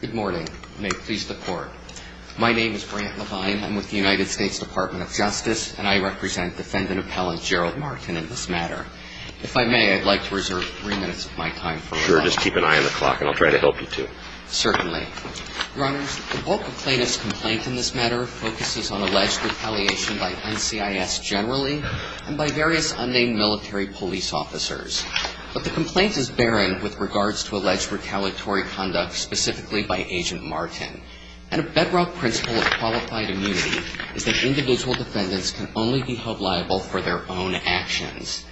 Good morning. May it please the Court. My name is Brant Levine. I'm with the United States Department of Justice, and I represent Defendant Appellant Gerald Martin in this matter. If I may, I'd like to reserve three minutes of my time for rebuttal. Sure. Just keep an eye on the clock, and I'll try to help you, too. Certainly. Your Honors, the bulk of plaintiff's complaint in this matter focuses on alleged retaliation by NCIS generally and by various unnamed military police officers. But the complaint is barren with regards to alleged retaliatory conduct specifically by Agent Martin. And a bedrock principle of qualified immunity is that individual defendants can only be held liable for their own actions.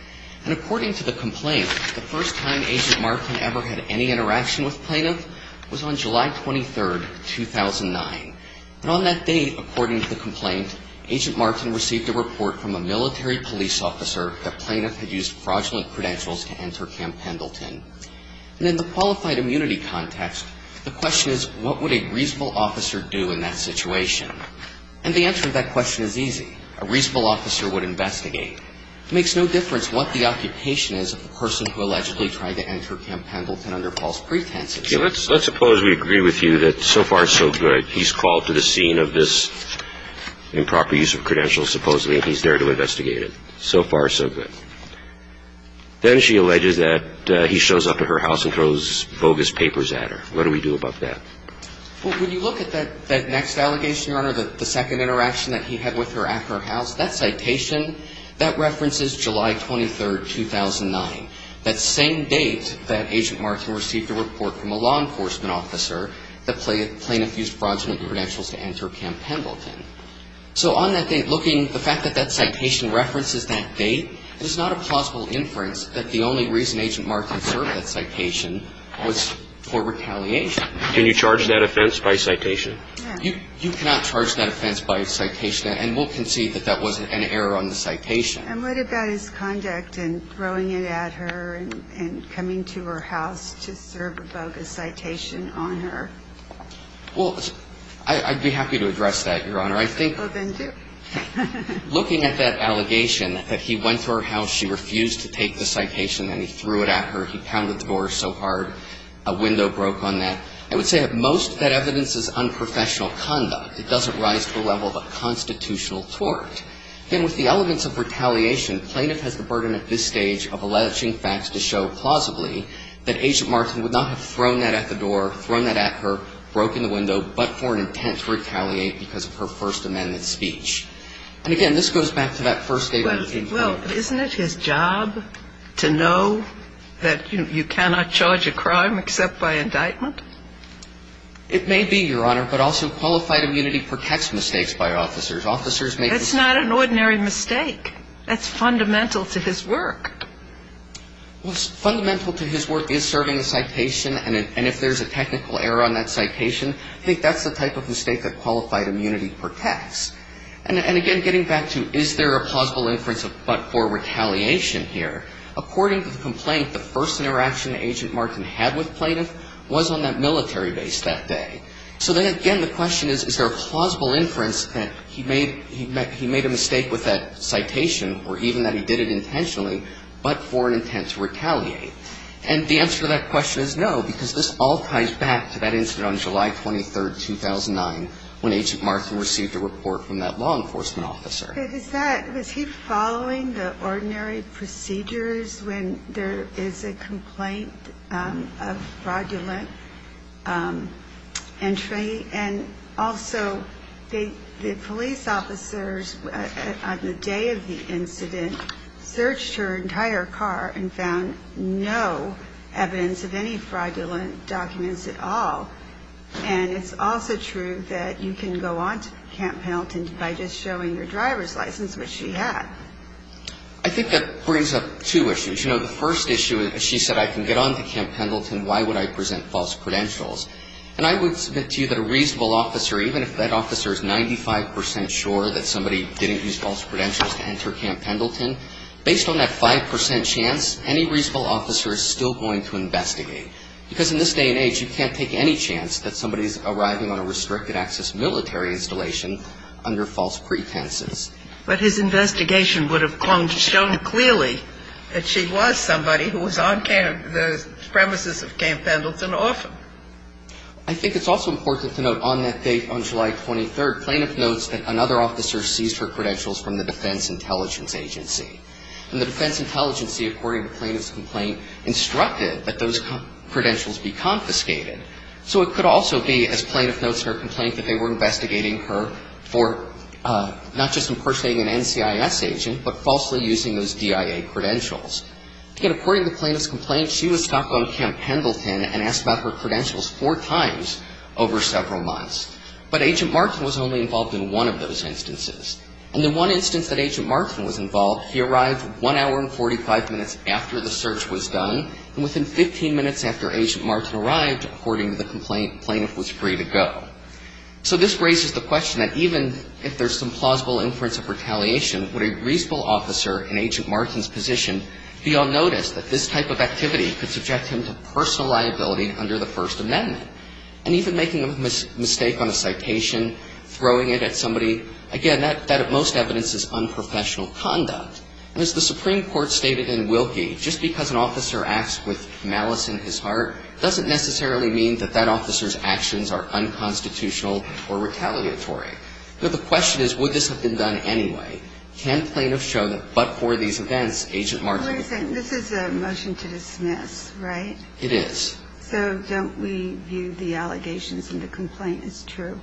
And according to the complaint, the first time Agent Martin ever had any interaction with plaintiff was on July 23, 2009. But on that date, according to the complaint, Agent Martin received a report from a military police officer that plaintiff had used fraudulent credentials to enter Camp Pendleton. And in the qualified immunity context, the question is, what would a reasonable officer do in that situation? And the answer to that question is easy. A reasonable officer would investigate. It makes no difference what the occupation is of the person who allegedly tried to enter Camp Pendleton under false pretenses. Let's suppose we agree with you that so far, so good. He's called to the scene of this improper use of credentials, supposedly, and he's there to investigate it. So far, so good. Then she alleges that he shows up at her house and throws bogus papers at her. What do we do about that? Well, when you look at that next allegation, Your Honor, the second interaction that he had with her at her house, that citation, that references July 23, 2009. That same date that Agent Martin received a report from a law enforcement officer that plaintiff used fraudulent credentials to enter Camp Pendleton. So on that date, looking at the fact that that citation references that date, it is not a plausible inference that the only reason Agent Martin served that citation was for retaliation. Can you charge that offense by citation? You cannot charge that offense by citation. And we'll concede that that wasn't an error on the citation. And what about his conduct in throwing it at her and coming to her house to serve a bogus citation on her? Well, I'd be happy to address that, Your Honor. I think. Well, then do. Looking at that allegation that he went to her house, she refused to take the citation, and he threw it at her. He pounded the door so hard, a window broke on that. I would say that most of that evidence is unprofessional conduct. It doesn't rise to the level of a constitutional tort. Again, with the elements of retaliation, plaintiff has the burden at this stage of alleging facts to show plausibly that Agent Martin would not have thrown that at the door, thrown that at her, broken the window, but for an intent to retaliate because of her First Amendment speech. And again, this goes back to that first statement. Well, isn't it his job to know that you cannot charge a crime except by indictment? It may be, Your Honor, but also qualified immunity protects mistakes by officers. Officers make mistakes. That's not an ordinary mistake. That's fundamental to his work. Well, fundamental to his work is serving a citation, and if there's a technical error on that citation, I think that's the type of mistake that qualified immunity protects. And again, getting back to is there a plausible inference but for retaliation here, according to the complaint, the first interaction Agent Martin had with plaintiff was on that military base that day. So then, again, the question is, is there a plausible inference that he made a mistake with that citation, or even that he did it intentionally, but for an intent to retaliate? And the answer to that question is no, because this all ties back to that incident on July 23, 2009, when Agent Martin received a report from that law enforcement officer. Was he following the ordinary procedures when there is a complaint of fraudulent entry? And also, the police officers on the day of the incident searched her entire car and found no evidence of any fraudulent documents at all. And it's also true that you can go on to Camp Pendleton by just showing your driver's license, which she had. I think that brings up two issues. You know, the first issue, she said, I can get on to Camp Pendleton, why would I present false credentials? And I would submit to you that a reasonable officer, even if that officer is 95 percent sure that somebody didn't use false credentials to enter Camp Pendleton, based on that 5 percent chance, any reasonable officer is still going to investigate, because in this day and age, you can't take any chance that somebody is arriving on a restricted-access military installation under false pretenses. But his investigation would have clung to stone clearly that she was somebody who was on camp, the premises of Camp Pendleton, often. I think it's also important to note on that date, on July 23, plaintiff notes that another officer seized her credentials from the Defense Intelligence Agency. And the Defense Intelligence, according to plaintiff's complaint, instructed that those credentials be confiscated. So it could also be, as plaintiff notes in her complaint, that they were investigating her for not just impersonating an NCIS agent, but falsely using those DIA credentials. Yet, according to plaintiff's complaint, she was stopped on Camp Pendleton and asked about her credentials four times over several months. But Agent Martin was only involved in one of those instances. And the one instance that Agent Martin was involved, he arrived one hour and 45 minutes after the search was done, and within 15 minutes after Agent Martin arrived, according to the complaint, plaintiff was free to go. So this raises the question that even if there's some plausible inference of retaliation, would a reasonable officer in Agent Martin's position be unnoticed that this type of activity could subject him to personal liability under the First Amendment? And even making a mistake on a citation, throwing it at somebody, again, that at most evidence is unprofessional conduct. And as the Supreme Court stated in Wilkie, just because an officer acts with malice in his heart, doesn't necessarily mean that that officer's actions are unconstitutional or retaliatory. But the question is, would this have been done anyway? Can plaintiff show that but for these events, Agent Martin was not involved? This is a motion to dismiss, right? It is. So don't we view the allegations in the complaint as true?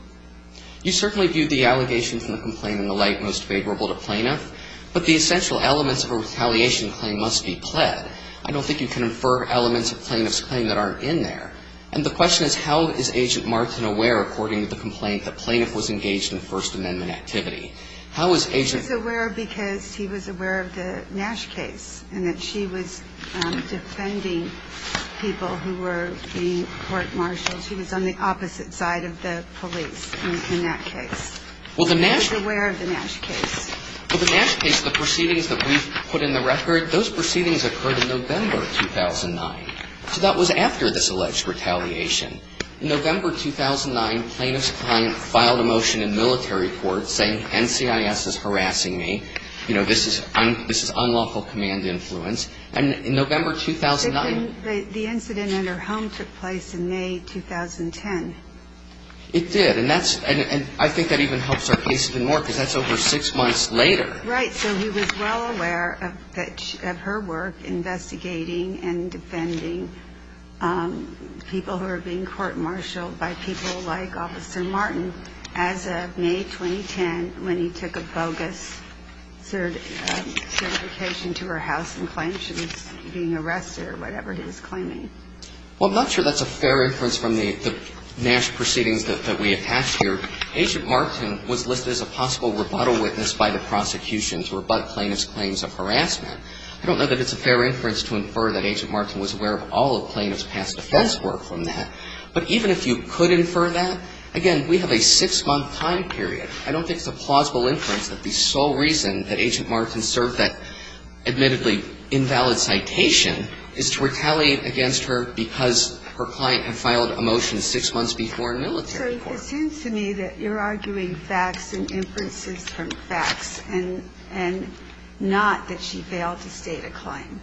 You certainly view the allegations in the complaint in the light most favorable to plaintiff. But the essential elements of a retaliation claim must be pled. I don't think you can infer elements of plaintiff's claim that aren't in there. And the question is, how is Agent Martin aware, according to the complaint, that plaintiff was engaged in a First Amendment activity? He was aware because he was aware of the Nash case, and that she was defending people who were being court-martialed. She was on the opposite side of the police in that case. He was aware of the Nash case. Well, the Nash case, the proceedings that we've put in the record, those proceedings occurred in November 2009. So that was after this alleged retaliation. In November 2009, plaintiff's client filed a motion in military court saying NCIS is harassing me. You know, this is unlawful command influence. And in November 2009 the incident at her home took place in May 2010. It did. And I think that even helps our case even more because that's over six months later. Right. So he was well aware of her work investigating and defending people who were being court-martialed by people like Officer Martin as of May 2010 when he took a bogus certification to her house and claimed she was being arrested or whatever he was claiming. Well, I'm not sure that's a fair inference from the Nash proceedings that we attached here. Agent Martin was listed as a possible rebuttal witness by the prosecution to rebut plaintiff's claims of harassment. I don't know that it's a fair inference to infer that Agent Martin was aware of all of plaintiff's past defense work from that. But even if you could infer that, again, we have a six-month time period. I don't think it's a plausible inference that the sole reason that Agent Martin served that admittedly invalid citation is to retaliate against her because her client had filed a motion six months before in military court. So it seems to me that you're arguing facts and inferences from facts and not that she failed to state a claim.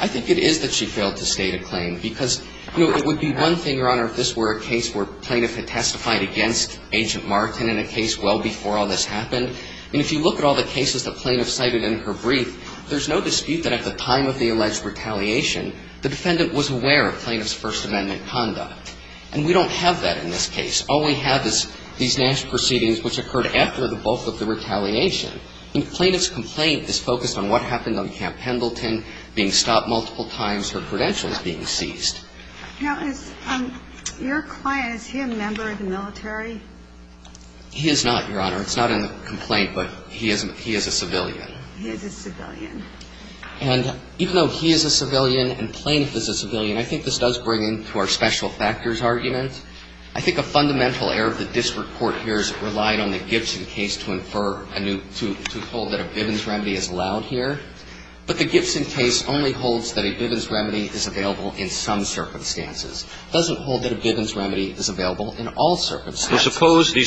I think it is that she failed to state a claim because, you know, it would be one thing, Your Honor, if this were a case where plaintiff had testified against Agent Martin in a case well before all this happened. And if you look at all the cases that plaintiff cited in her brief, there's no dispute that at the time of the alleged retaliation, the defendant was aware of plaintiff's First Amendment conduct. And we don't have that in this case. All we have is these Nash proceedings which occurred after the bulk of the retaliation. And the plaintiff's complaint is focused on what happened on Camp Pendleton, being stopped multiple times, her credentials being seized. Now, is your client, is he a member of the military? He is not, Your Honor. It's not a complaint, but he is a civilian. He is a civilian. And even though he is a civilian and plaintiff is a civilian, I think this does bring into our special factors argument. I think a fundamental error of the district court here is it relied on the Gibson case to infer a new to hold that a Bivens remedy is allowed here. But the Gibson case only holds that a Bivens remedy is available in some circumstances. These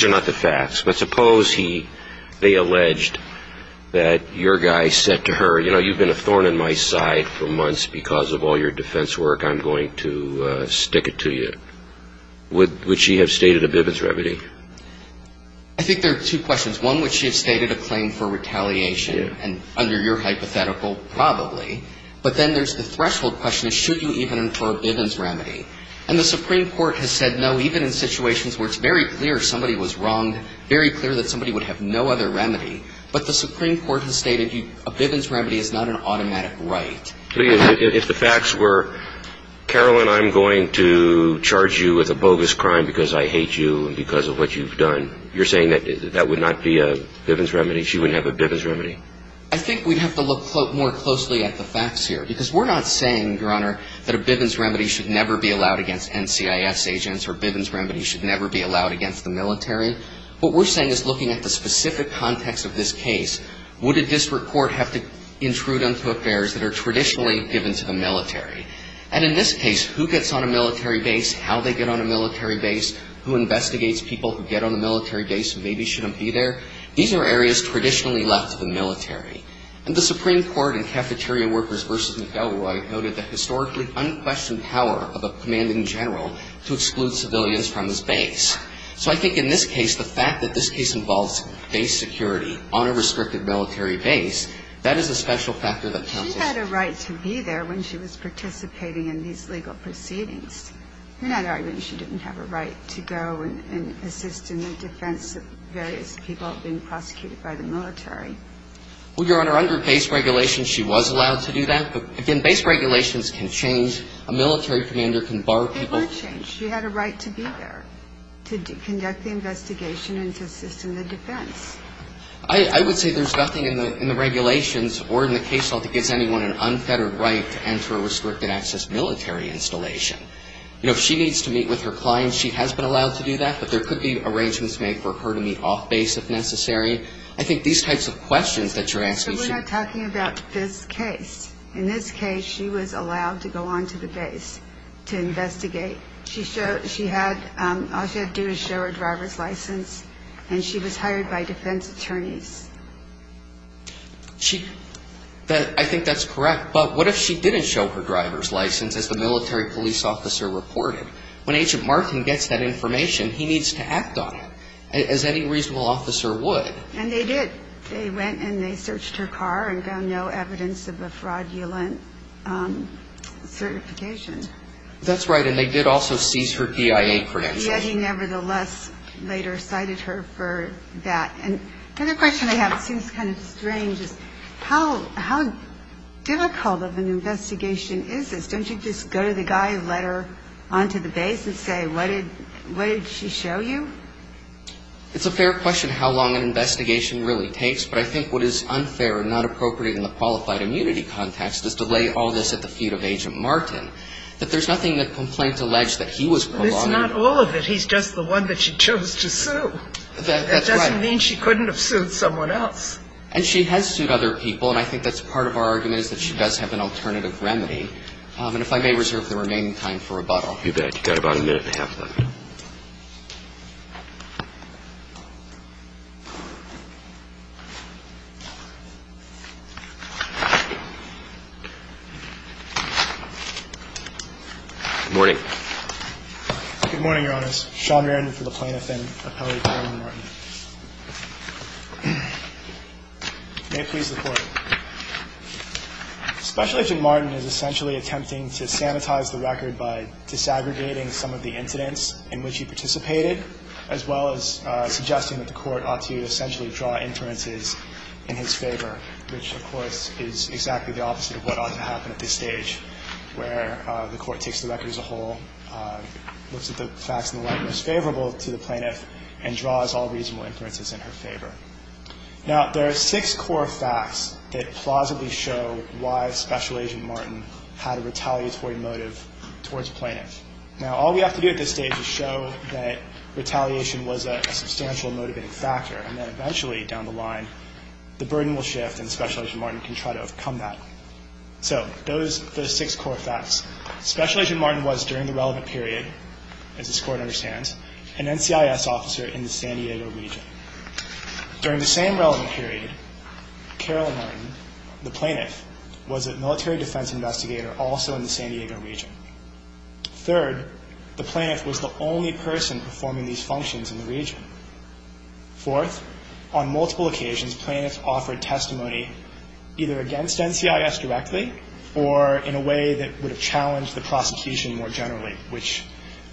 are not the facts. But suppose they alleged that your guy said to her, you know, you've been a thorn in my side for months because of all your defense work. I'm going to stick it to you. Would she have stated a Bivens remedy? I think there are two questions. One, would she have stated a claim for retaliation? And under your hypothetical, probably. But then there's the threshold question, should you even infer a Bivens remedy? And the Supreme Court has said no, even in situations where it's very clear somebody was wrong, very clear that somebody would have no other remedy. But the Supreme Court has stated a Bivens remedy is not an automatic right. If the facts were, Carolyn, I'm going to charge you with a bogus crime because I hate you and because of what you've done, you're saying that that would not be a Bivens remedy, she wouldn't have a Bivens remedy? I think we'd have to look more closely at the facts here. Because we're not saying, Your Honor, that a Bivens remedy should never be allowed against NCIS agents or a Bivens remedy should never be allowed against the military. What we're saying is looking at the specific context of this case, would a district court have to intrude onto affairs that are traditionally given to the military? And in this case, who gets on a military base, how they get on a military base, who investigates people who get on a military base who maybe shouldn't be there? These are areas traditionally left to the military. And the Supreme Court in Cafeteria Workers v. McElroy noted the historically unquestioned power of a commanding general to exclude civilians from his base. So I think in this case, the fact that this case involves base security on a restricted military base, that is a special factor that counsels need to consider. She had a right to be there when she was participating in these legal proceedings. In other arguments, she didn't have a right to go and assist in the defense of various people being prosecuted by the military. Well, Your Honor, under base regulations, she was allowed to do that. But, again, base regulations can change. A military commander can bar people. They were changed. She had a right to be there to conduct the investigation and to assist in the defense. I would say there's nothing in the regulations or in the case law that gives anyone an unfettered right to enter a restricted access military installation. You know, if she needs to meet with her clients, she has been allowed to do that. But there could be arrangements made for her to meet off base if necessary. I think these types of questions that you're asking... But we're not talking about this case. In this case, she was allowed to go on to the base to investigate. All she had to do was show her driver's license, and she was hired by defense attorneys. I think that's correct. But what if she didn't show her driver's license, as the military police officer reported? When Agent Martin gets that information, he needs to act on it, as any reasonable officer would. And they did. They went and they searched her car and found no evidence of a fraudulent certification. That's right, and they did also seize her PIA credentials. Yet he nevertheless later cited her for that. And the other question I have, it seems kind of strange, is how difficult of an investigation is this? Don't you just go to the guy and let her onto the base and say, what did she show you? It's a fair question how long an investigation really takes, but I think what is unfair and not appropriate in the qualified immunity context is to lay all this at the feet of Agent Martin, that there's nothing that complaints allege that he was prolonged... But it's not all of it. He's just the one that she chose to sue. That's right. That doesn't mean she couldn't have sued someone else. And she has sued other people, and I think that's part of our argument, is that she does have an alternative remedy. And if I may reserve the remaining time for rebuttal. You bet. You've got about a minute and a half left. Good morning. Good morning, Your Honors. Sean Randin for the plaintiff and appellate, Agent Martin. May it please the Court. Special Agent Martin is essentially attempting to sanitize the record by disaggregating some of the incidents in which he participated, as well as suggesting that the Court ought to essentially draw inferences in his favor, which, of course, is exactly the opposite of what ought to happen at this stage, where the Court takes the record as a whole, looks at the facts in the light most favorable to the plaintiff, and draws all reasonable inferences in her favor. Now, there are six core facts that plausibly show why Special Agent Martin had a retaliatory motive towards the plaintiff. Now, all we have to do at this stage is show that retaliation was a substantial motivating factor, and then eventually, down the line, the burden will shift and Special Agent Martin can try to overcome that. So those are the six core facts. Special Agent Martin was, during the relevant period, as this Court understands, an NCIS officer in the San Diego region. During the same relevant period, Carol Martin, the plaintiff, was a military defense investigator also in the San Diego region. Third, the plaintiff was the only person performing these functions in the region. Fourth, on multiple occasions, plaintiffs offered testimony either against NCIS directly or in a way that would have challenged the prosecution more generally, which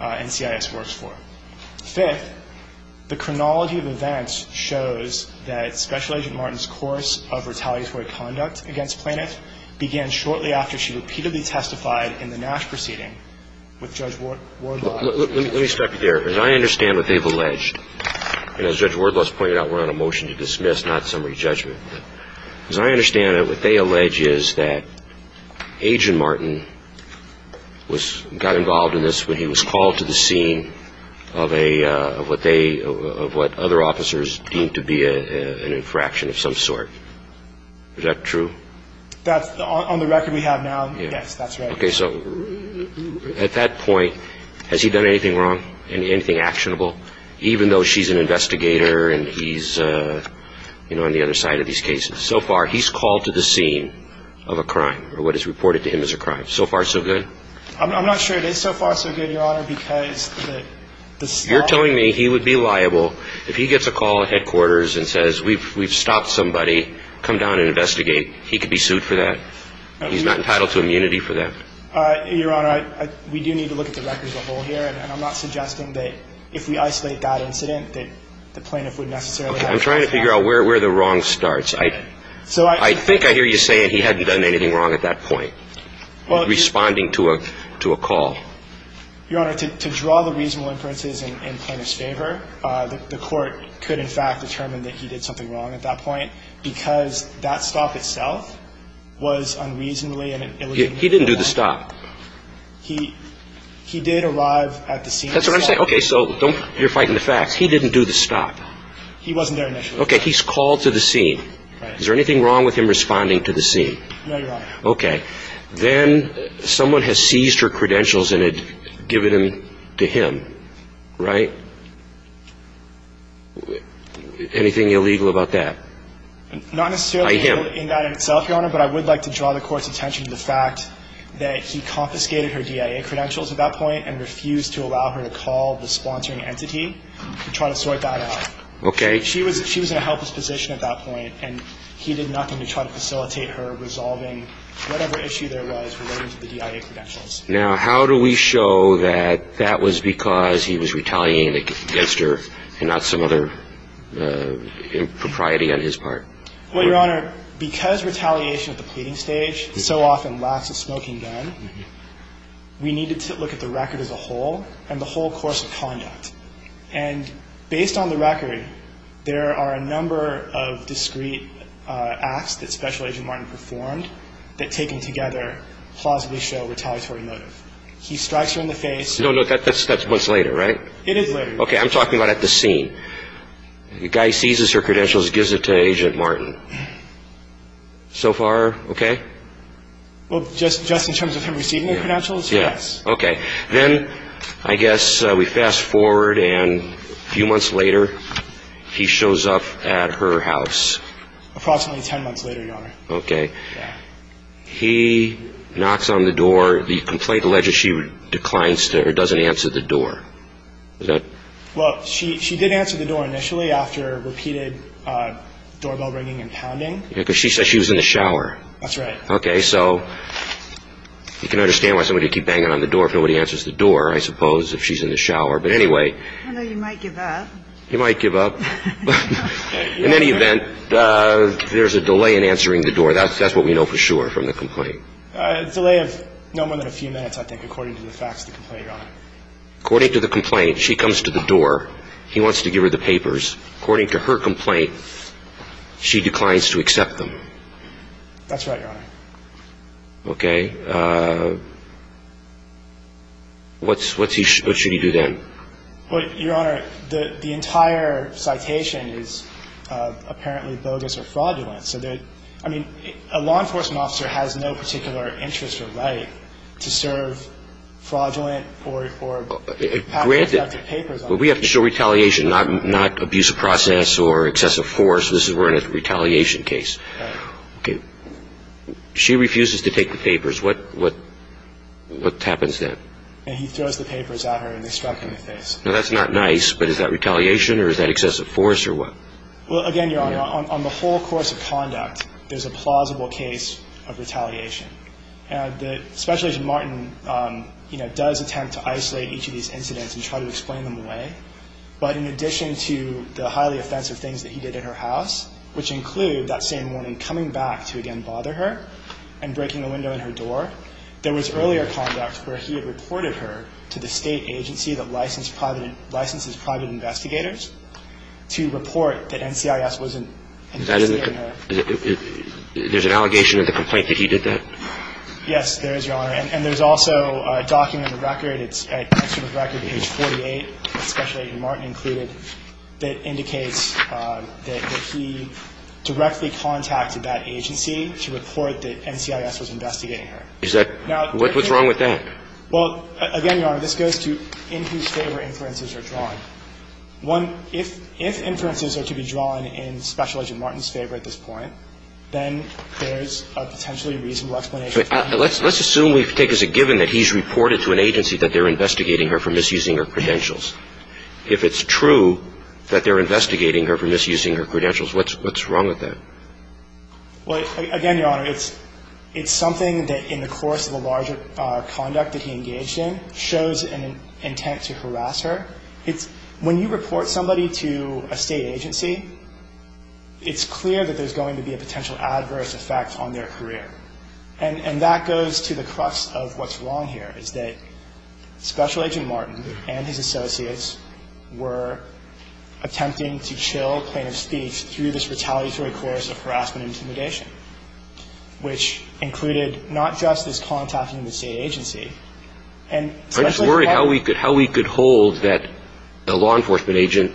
NCIS works for. Fifth, the chronology of events shows that Special Agent Martin's course of retaliatory conduct against plaintiff began shortly after she repeatedly testified in the Nash proceeding with Judge Wardlaw. Let me stop you there. As I understand what they've alleged, and as Judge Wardlaw has pointed out, we're on a motion to dismiss, not summary judgment. As I understand it, what they allege is that Agent Martin got involved in this when he was called to the scene of what other officers deemed to be an infraction of some sort. Is that true? On the record we have now, yes, that's right. Okay, so at that point, has he done anything wrong, anything actionable, even though she's an investigator and he's on the other side of these cases? So far, he's called to the scene of a crime or what is reported to him as a crime. So far, so good? I'm not sure it is so far, so good, Your Honor, because the staff- You're telling me he would be liable if he gets a call at headquarters and says, we've stopped somebody, come down and investigate. He could be sued for that? He's not entitled to immunity for that? Your Honor, we do need to look at the record as a whole here, and I'm not suggesting that if we isolate that incident that the plaintiff would necessarily have- I'm trying to figure out where the wrong starts. I think I hear you saying he hadn't done anything wrong at that point, responding to a call. Your Honor, to draw the reasonable inferences in plaintiff's favor, the court could, in fact, determine that he did something wrong at that point because that stop itself was unreasonably- He didn't do the stop. He did arrive at the scene- That's what I'm saying. Okay, so you're fighting the facts. He didn't do the stop. He wasn't there initially. Okay, he's called to the scene. Right. Is there anything wrong with him responding to the scene? No, Your Honor. Okay. Then someone has seized her credentials and had given them to him, right? Anything illegal about that? Not necessarily in that in itself, Your Honor, but I would like to draw the court's attention to the fact that he confiscated her DIA credentials at that point and refused to allow her to call the sponsoring entity to try to sort that out. Okay. She was in a helpless position at that point, and he did nothing to try to facilitate her resolving whatever issue there was related to the DIA credentials. Now, how do we show that that was because he was retaliating against her and not some other impropriety on his part? Well, Your Honor, because retaliation at the pleading stage so often lacks a smoking gun, we needed to look at the record as a whole and the whole course of conduct. And based on the record, there are a number of discrete acts that Special Agent Martin performed that taken together plausibly show retaliatory motive. He strikes her in the face. No, no, that's once later, right? It is later. Okay. I'm talking about at the scene. The guy seizes her credentials, gives it to Agent Martin. So far okay? Well, just in terms of him receiving her credentials, yes. Okay. Then I guess we fast forward and a few months later he shows up at her house. Approximately ten months later, Your Honor. Okay. He knocks on the door. The complaint alleges she declines to or doesn't answer the door. Well, she did answer the door initially after repeated doorbell ringing and pounding. Because she said she was in the shower. That's right. Okay, so you can understand why somebody would keep banging on the door if nobody answers the door, I suppose, if she's in the shower. But anyway. I know you might give up. You might give up. In any event, there's a delay in answering the door. That's what we know for sure from the complaint. A delay of no more than a few minutes, I think, according to the facts of the complaint, Your Honor. According to the complaint, she comes to the door. He wants to give her the papers. According to her complaint, she declines to accept them. That's right, Your Honor. Okay. What should he do then? Well, Your Honor, the entire citation is apparently bogus or fraudulent. I mean, a law enforcement officer has no particular interest or right to serve fraudulent or pathetic papers. Granted. But we have to show retaliation, not abuse of process or excessive force. This is we're in a retaliation case. Okay. She refuses to take the papers. What happens then? He throws the papers at her, and they struck him in the face. Now, that's not nice, but is that retaliation or is that excessive force or what? Well, again, Your Honor, on the whole course of conduct, there's a plausible case of retaliation. And Special Agent Martin, you know, does attempt to isolate each of these incidents and try to explain them away. But in addition to the highly offensive things that he did in her house, which include that same morning coming back to again bother her and breaking a window in her door, there was earlier conduct where he had reported her to the state agency that licenses private investigators to report that NCIS wasn't investigating her. There's an allegation in the complaint that he did that? Yes, there is, Your Honor. And there's also a document, a record. It's a record, page 48, Special Agent Martin included, that indicates that he directly contacted that agency to report that NCIS was investigating her. What's wrong with that? Well, again, Your Honor, this goes to in whose favor inferences are drawn. One, if inferences are to be drawn in Special Agent Martin's favor at this point, then there's a potentially reasonable explanation. Let's assume we take as a given that he's reported to an agency that they're investigating her for misusing her credentials. If it's true that they're investigating her for misusing her credentials, what's wrong with that? Well, again, Your Honor, it's something that in the course of a larger conduct that he engaged in shows an intent to harass her. When you report somebody to a state agency, it's clear that there's going to be a potential adverse effect on their career. And that goes to the crux of what's wrong here, is that Special Agent Martin and his associates were attempting to chill plaintiff's speech through this retaliatory course of harassment and intimidation, which included not just his contacting the state agency, and Special Agent Martin I'm just worried how we could hold that a law enforcement agent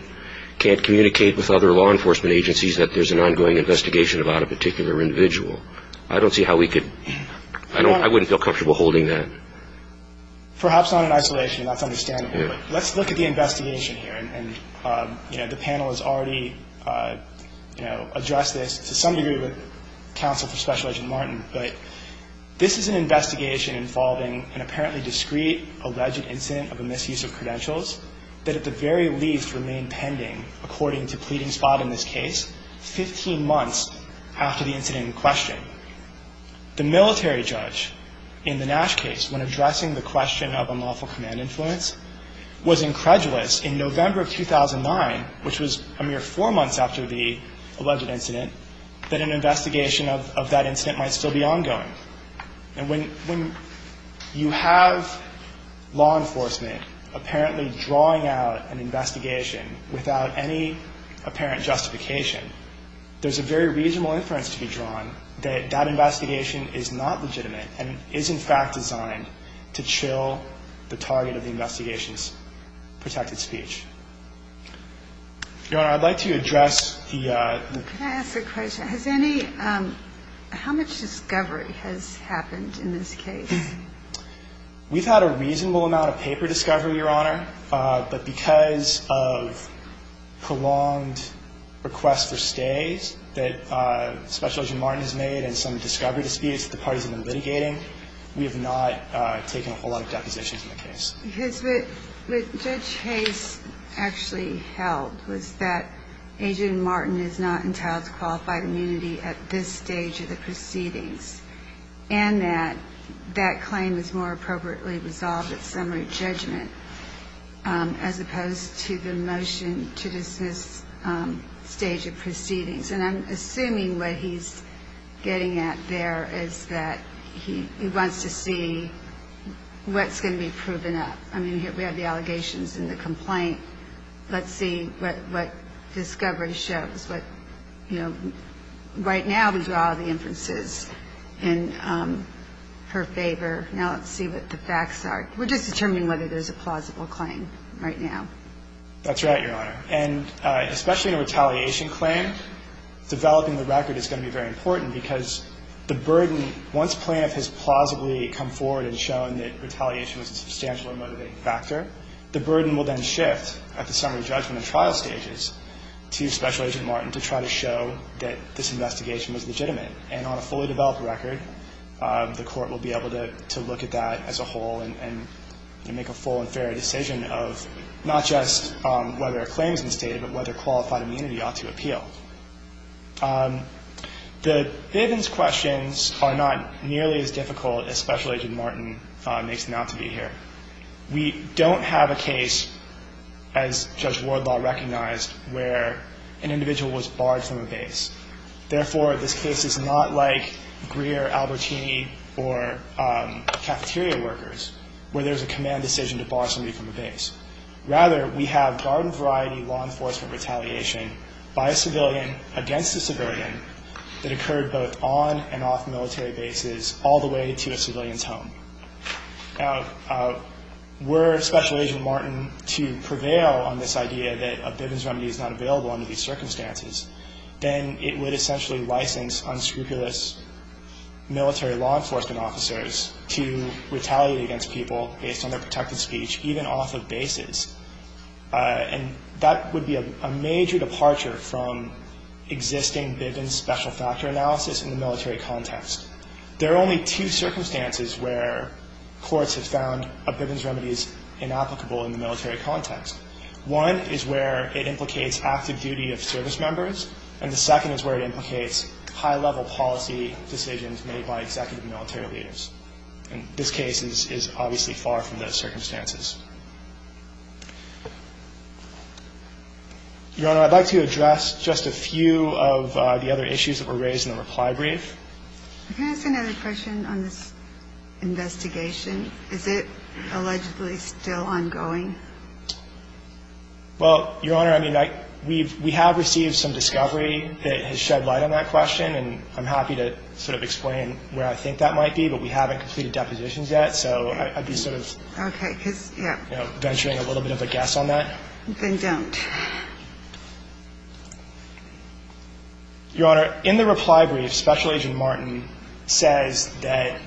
can't communicate with other law enforcement agencies that there's an ongoing investigation about a particular individual. I don't see how we could. I wouldn't feel comfortable holding that. Perhaps not in isolation. That's understandable. But let's look at the investigation here. And the panel has already addressed this to some degree with counsel for Special Agent Martin. But this is an investigation involving an apparently discreet alleged incident of a misuse of credentials that at the very least remained pending according to pleading spot in this case 15 months after the incident in question. The military judge in the Nash case, when addressing the question of unlawful command influence, was incredulous in November of 2009, which was a mere four months after the alleged incident, that an investigation of that incident might still be ongoing. And when you have law enforcement apparently drawing out an investigation without any that investigation is not legitimate and is, in fact, designed to chill the target of the investigation's protected speech. Your Honor, I'd like to address the ‑‑ Can I ask a question? Has any ‑‑ how much discovery has happened in this case? We've had a reasonable amount of paper discovery, Your Honor. But because of prolonged requests for stays that Special Agent Martin has made and some discovery disputes that the parties have been litigating, we have not taken a whole lot of depositions in the case. Because what Judge Hayes actually held was that Agent Martin is not entitled to qualified immunity at this stage of the proceedings and that that claim is more appropriately resolved at summary judgment. As opposed to the motion to dismiss stage of proceedings. And I'm assuming what he's getting at there is that he wants to see what's going to be proven up. I mean, we have the allegations and the complaint. Let's see what discovery shows. Right now we draw the inferences in her favor. Now let's see what the facts are. We're just determining whether there's a plausible claim right now. That's right, Your Honor. And especially in a retaliation claim, developing the record is going to be very important because the burden, once plaintiff has plausibly come forward and shown that retaliation was a substantial and motivating factor, the burden will then shift at the summary judgment and trial stages to Special Agent Martin to try to show that this investigation was legitimate. And on a fully developed record, the Court will be able to look at that as a whole and make a full and fair decision of not just whether a claim is misstated, but whether qualified immunity ought to appeal. The Bivens questions are not nearly as difficult as Special Agent Martin makes them out to be here. We don't have a case, as Judge Wardlaw recognized, where an individual was barred from a base. Therefore, this case is not like Greer, Albertini, or cafeteria workers, where there's a command decision to bar somebody from a base. Rather, we have garden-variety law enforcement retaliation by a civilian against a civilian that occurred both on and off military bases all the way to a civilian's home. Were Special Agent Martin to prevail on this idea that a Bivens remedy is not available under these circumstances, then it would essentially license unscrupulous military law enforcement officers to retaliate against people based on their protected speech, even off of bases. And that would be a major departure from existing Bivens special factor analysis in the military context. There are only two circumstances where courts have found a Bivens remedy is inapplicable in the military context. One is where it implicates active duty of service members. And the second is where it implicates high-level policy decisions made by executive military leaders. And this case is obviously far from those circumstances. Your Honor, I'd like to address just a few of the other issues that were raised in the reply brief. Can I ask another question on this investigation? Is it allegedly still ongoing? Well, Your Honor, I mean, we have received some discovery that has shed light on that question. And I'm happy to sort of explain where I think that might be. But we haven't completed depositions yet. So I'd be sort of venturing a little bit of a guess on that. Then don't. Your Honor, in the reply brief, Special Agent Martin says that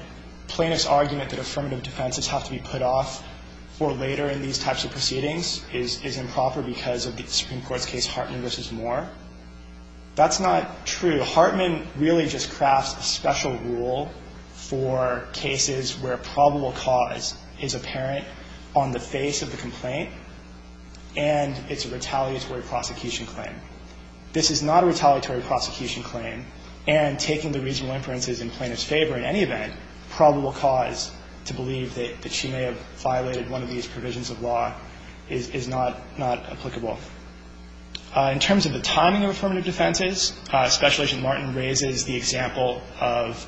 plaintiff's argument that affirmative defenses have to be put off for later in these types of proceedings is improper because of the Supreme Court's case Hartman v. Moore. That's not true. Hartman really just crafts a special rule for cases where probable cause is apparent on the face of the complaint. And it's a retaliatory prosecution claim. This is not a retaliatory prosecution claim. And taking the reasonable inferences in plaintiff's favor in any event, probable cause to believe that she may have violated one of these provisions of law is not applicable. In terms of the timing of affirmative defenses, Special Agent Martin raises the example of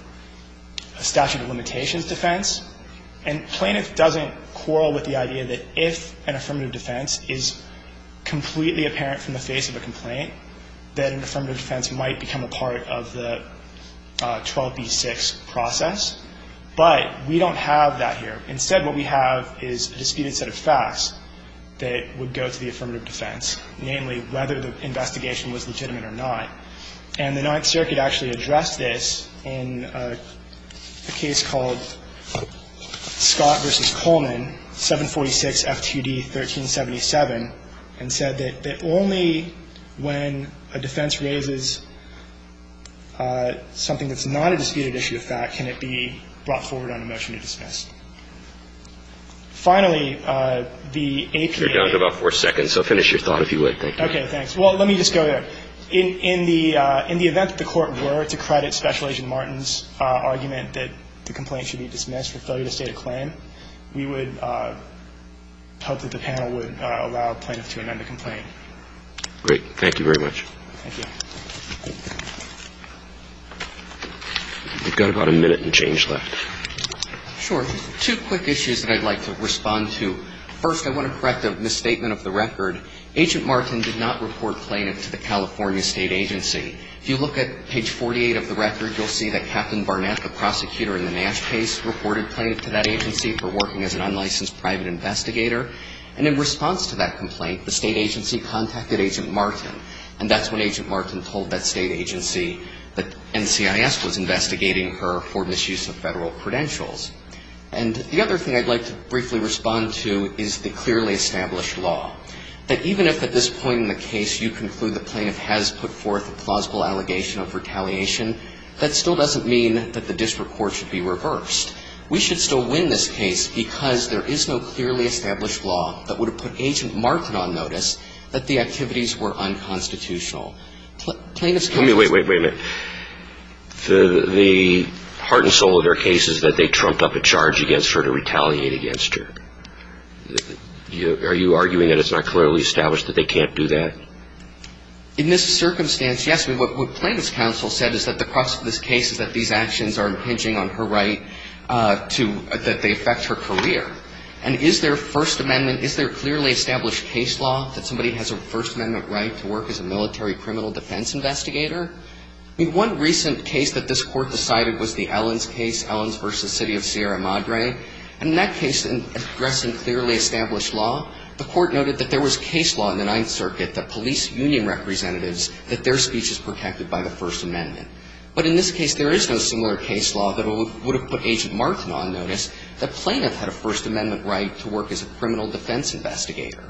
a statute of limitations defense. And plaintiff doesn't quarrel with the idea that if an affirmative defense is completely apparent from the face of a complaint, that an affirmative defense might become a part of the 12b-6 process. But we don't have that here. Instead, what we have is a disputed set of facts that would go to the affirmative defense, namely whether the investigation was legitimate or not. And the Ninth Circuit actually addressed this in a case called Scott v. Coleman, 746 F.T.D. 1377, and said that only when a defense raises something that's not a disputed issue of fact can it be brought forward on a motion to dismiss. Finally, the APA. You're down to about four seconds, so finish your thought if you would. Okay. Thanks. Well, let me just go there. In the event that the Court were to credit Special Agent Martin's argument that the complaint should be dismissed for failure to state a claim, we would hope that the panel would allow plaintiffs to amend the complaint. Great. Thank you very much. Thank you. We've got about a minute and change left. Sure. Two quick issues that I'd like to respond to. First, I want to correct a misstatement of the record. Agent Martin did not report plaintiff to the California State Agency. If you look at page 48 of the record, you'll see that Captain Barnett, the prosecutor in the Nash case, reported plaintiff to that agency for working as an unlicensed private investigator. And in response to that complaint, the state agency contacted Agent Martin. And that's when Agent Martin told that state agency that NCIS was investigating her for misuse of federal credentials. And the other thing I'd like to briefly respond to is the clearly established law. That even if at this point in the case you conclude that plaintiff has put forth a plausible allegation of retaliation, that still doesn't mean that the district court should be reversed. We should still win this case because there is no clearly established law that would have put Agent Martin on notice that the activities were unconstitutional. Plaintiffs can't just do that. Let me wait, wait, wait a minute. The heart and soul of their case is that they trumped up a charge against her to retaliate against her. Are you arguing that it's not clearly established that they can't do that? In this circumstance, yes. What plaintiff's counsel said is that the crux of this case is that these actions are impinging on her right to, that they affect her career. And is there First Amendment, is there clearly established case law that somebody has a First Amendment right to work as a military criminal defense investigator? I mean, one recent case that this Court decided was the Ellens case, Ellens v. City of Sierra Madre. And in that case, in addressing clearly established law, the Court noted that there was case law in the Ninth Circuit that police union representatives, that their speech is protected by the First Amendment. But in this case, there is no similar case law that would have put Agent Martin on notice that plaintiff had a First Amendment right to work as a criminal defense investigator.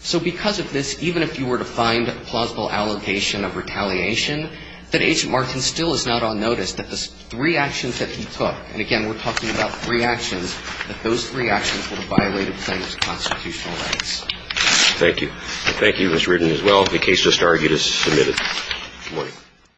So because of this, even if you were to find a plausible allegation of retaliation, that Agent Martin still is not on notice, that the three actions that he took, and again, we're talking about three actions, that those three actions would have violated plaintiff's constitutional rights. Thank you. Thank you, Mr. Reardon, as well. The case just argued is submitted. Good morning.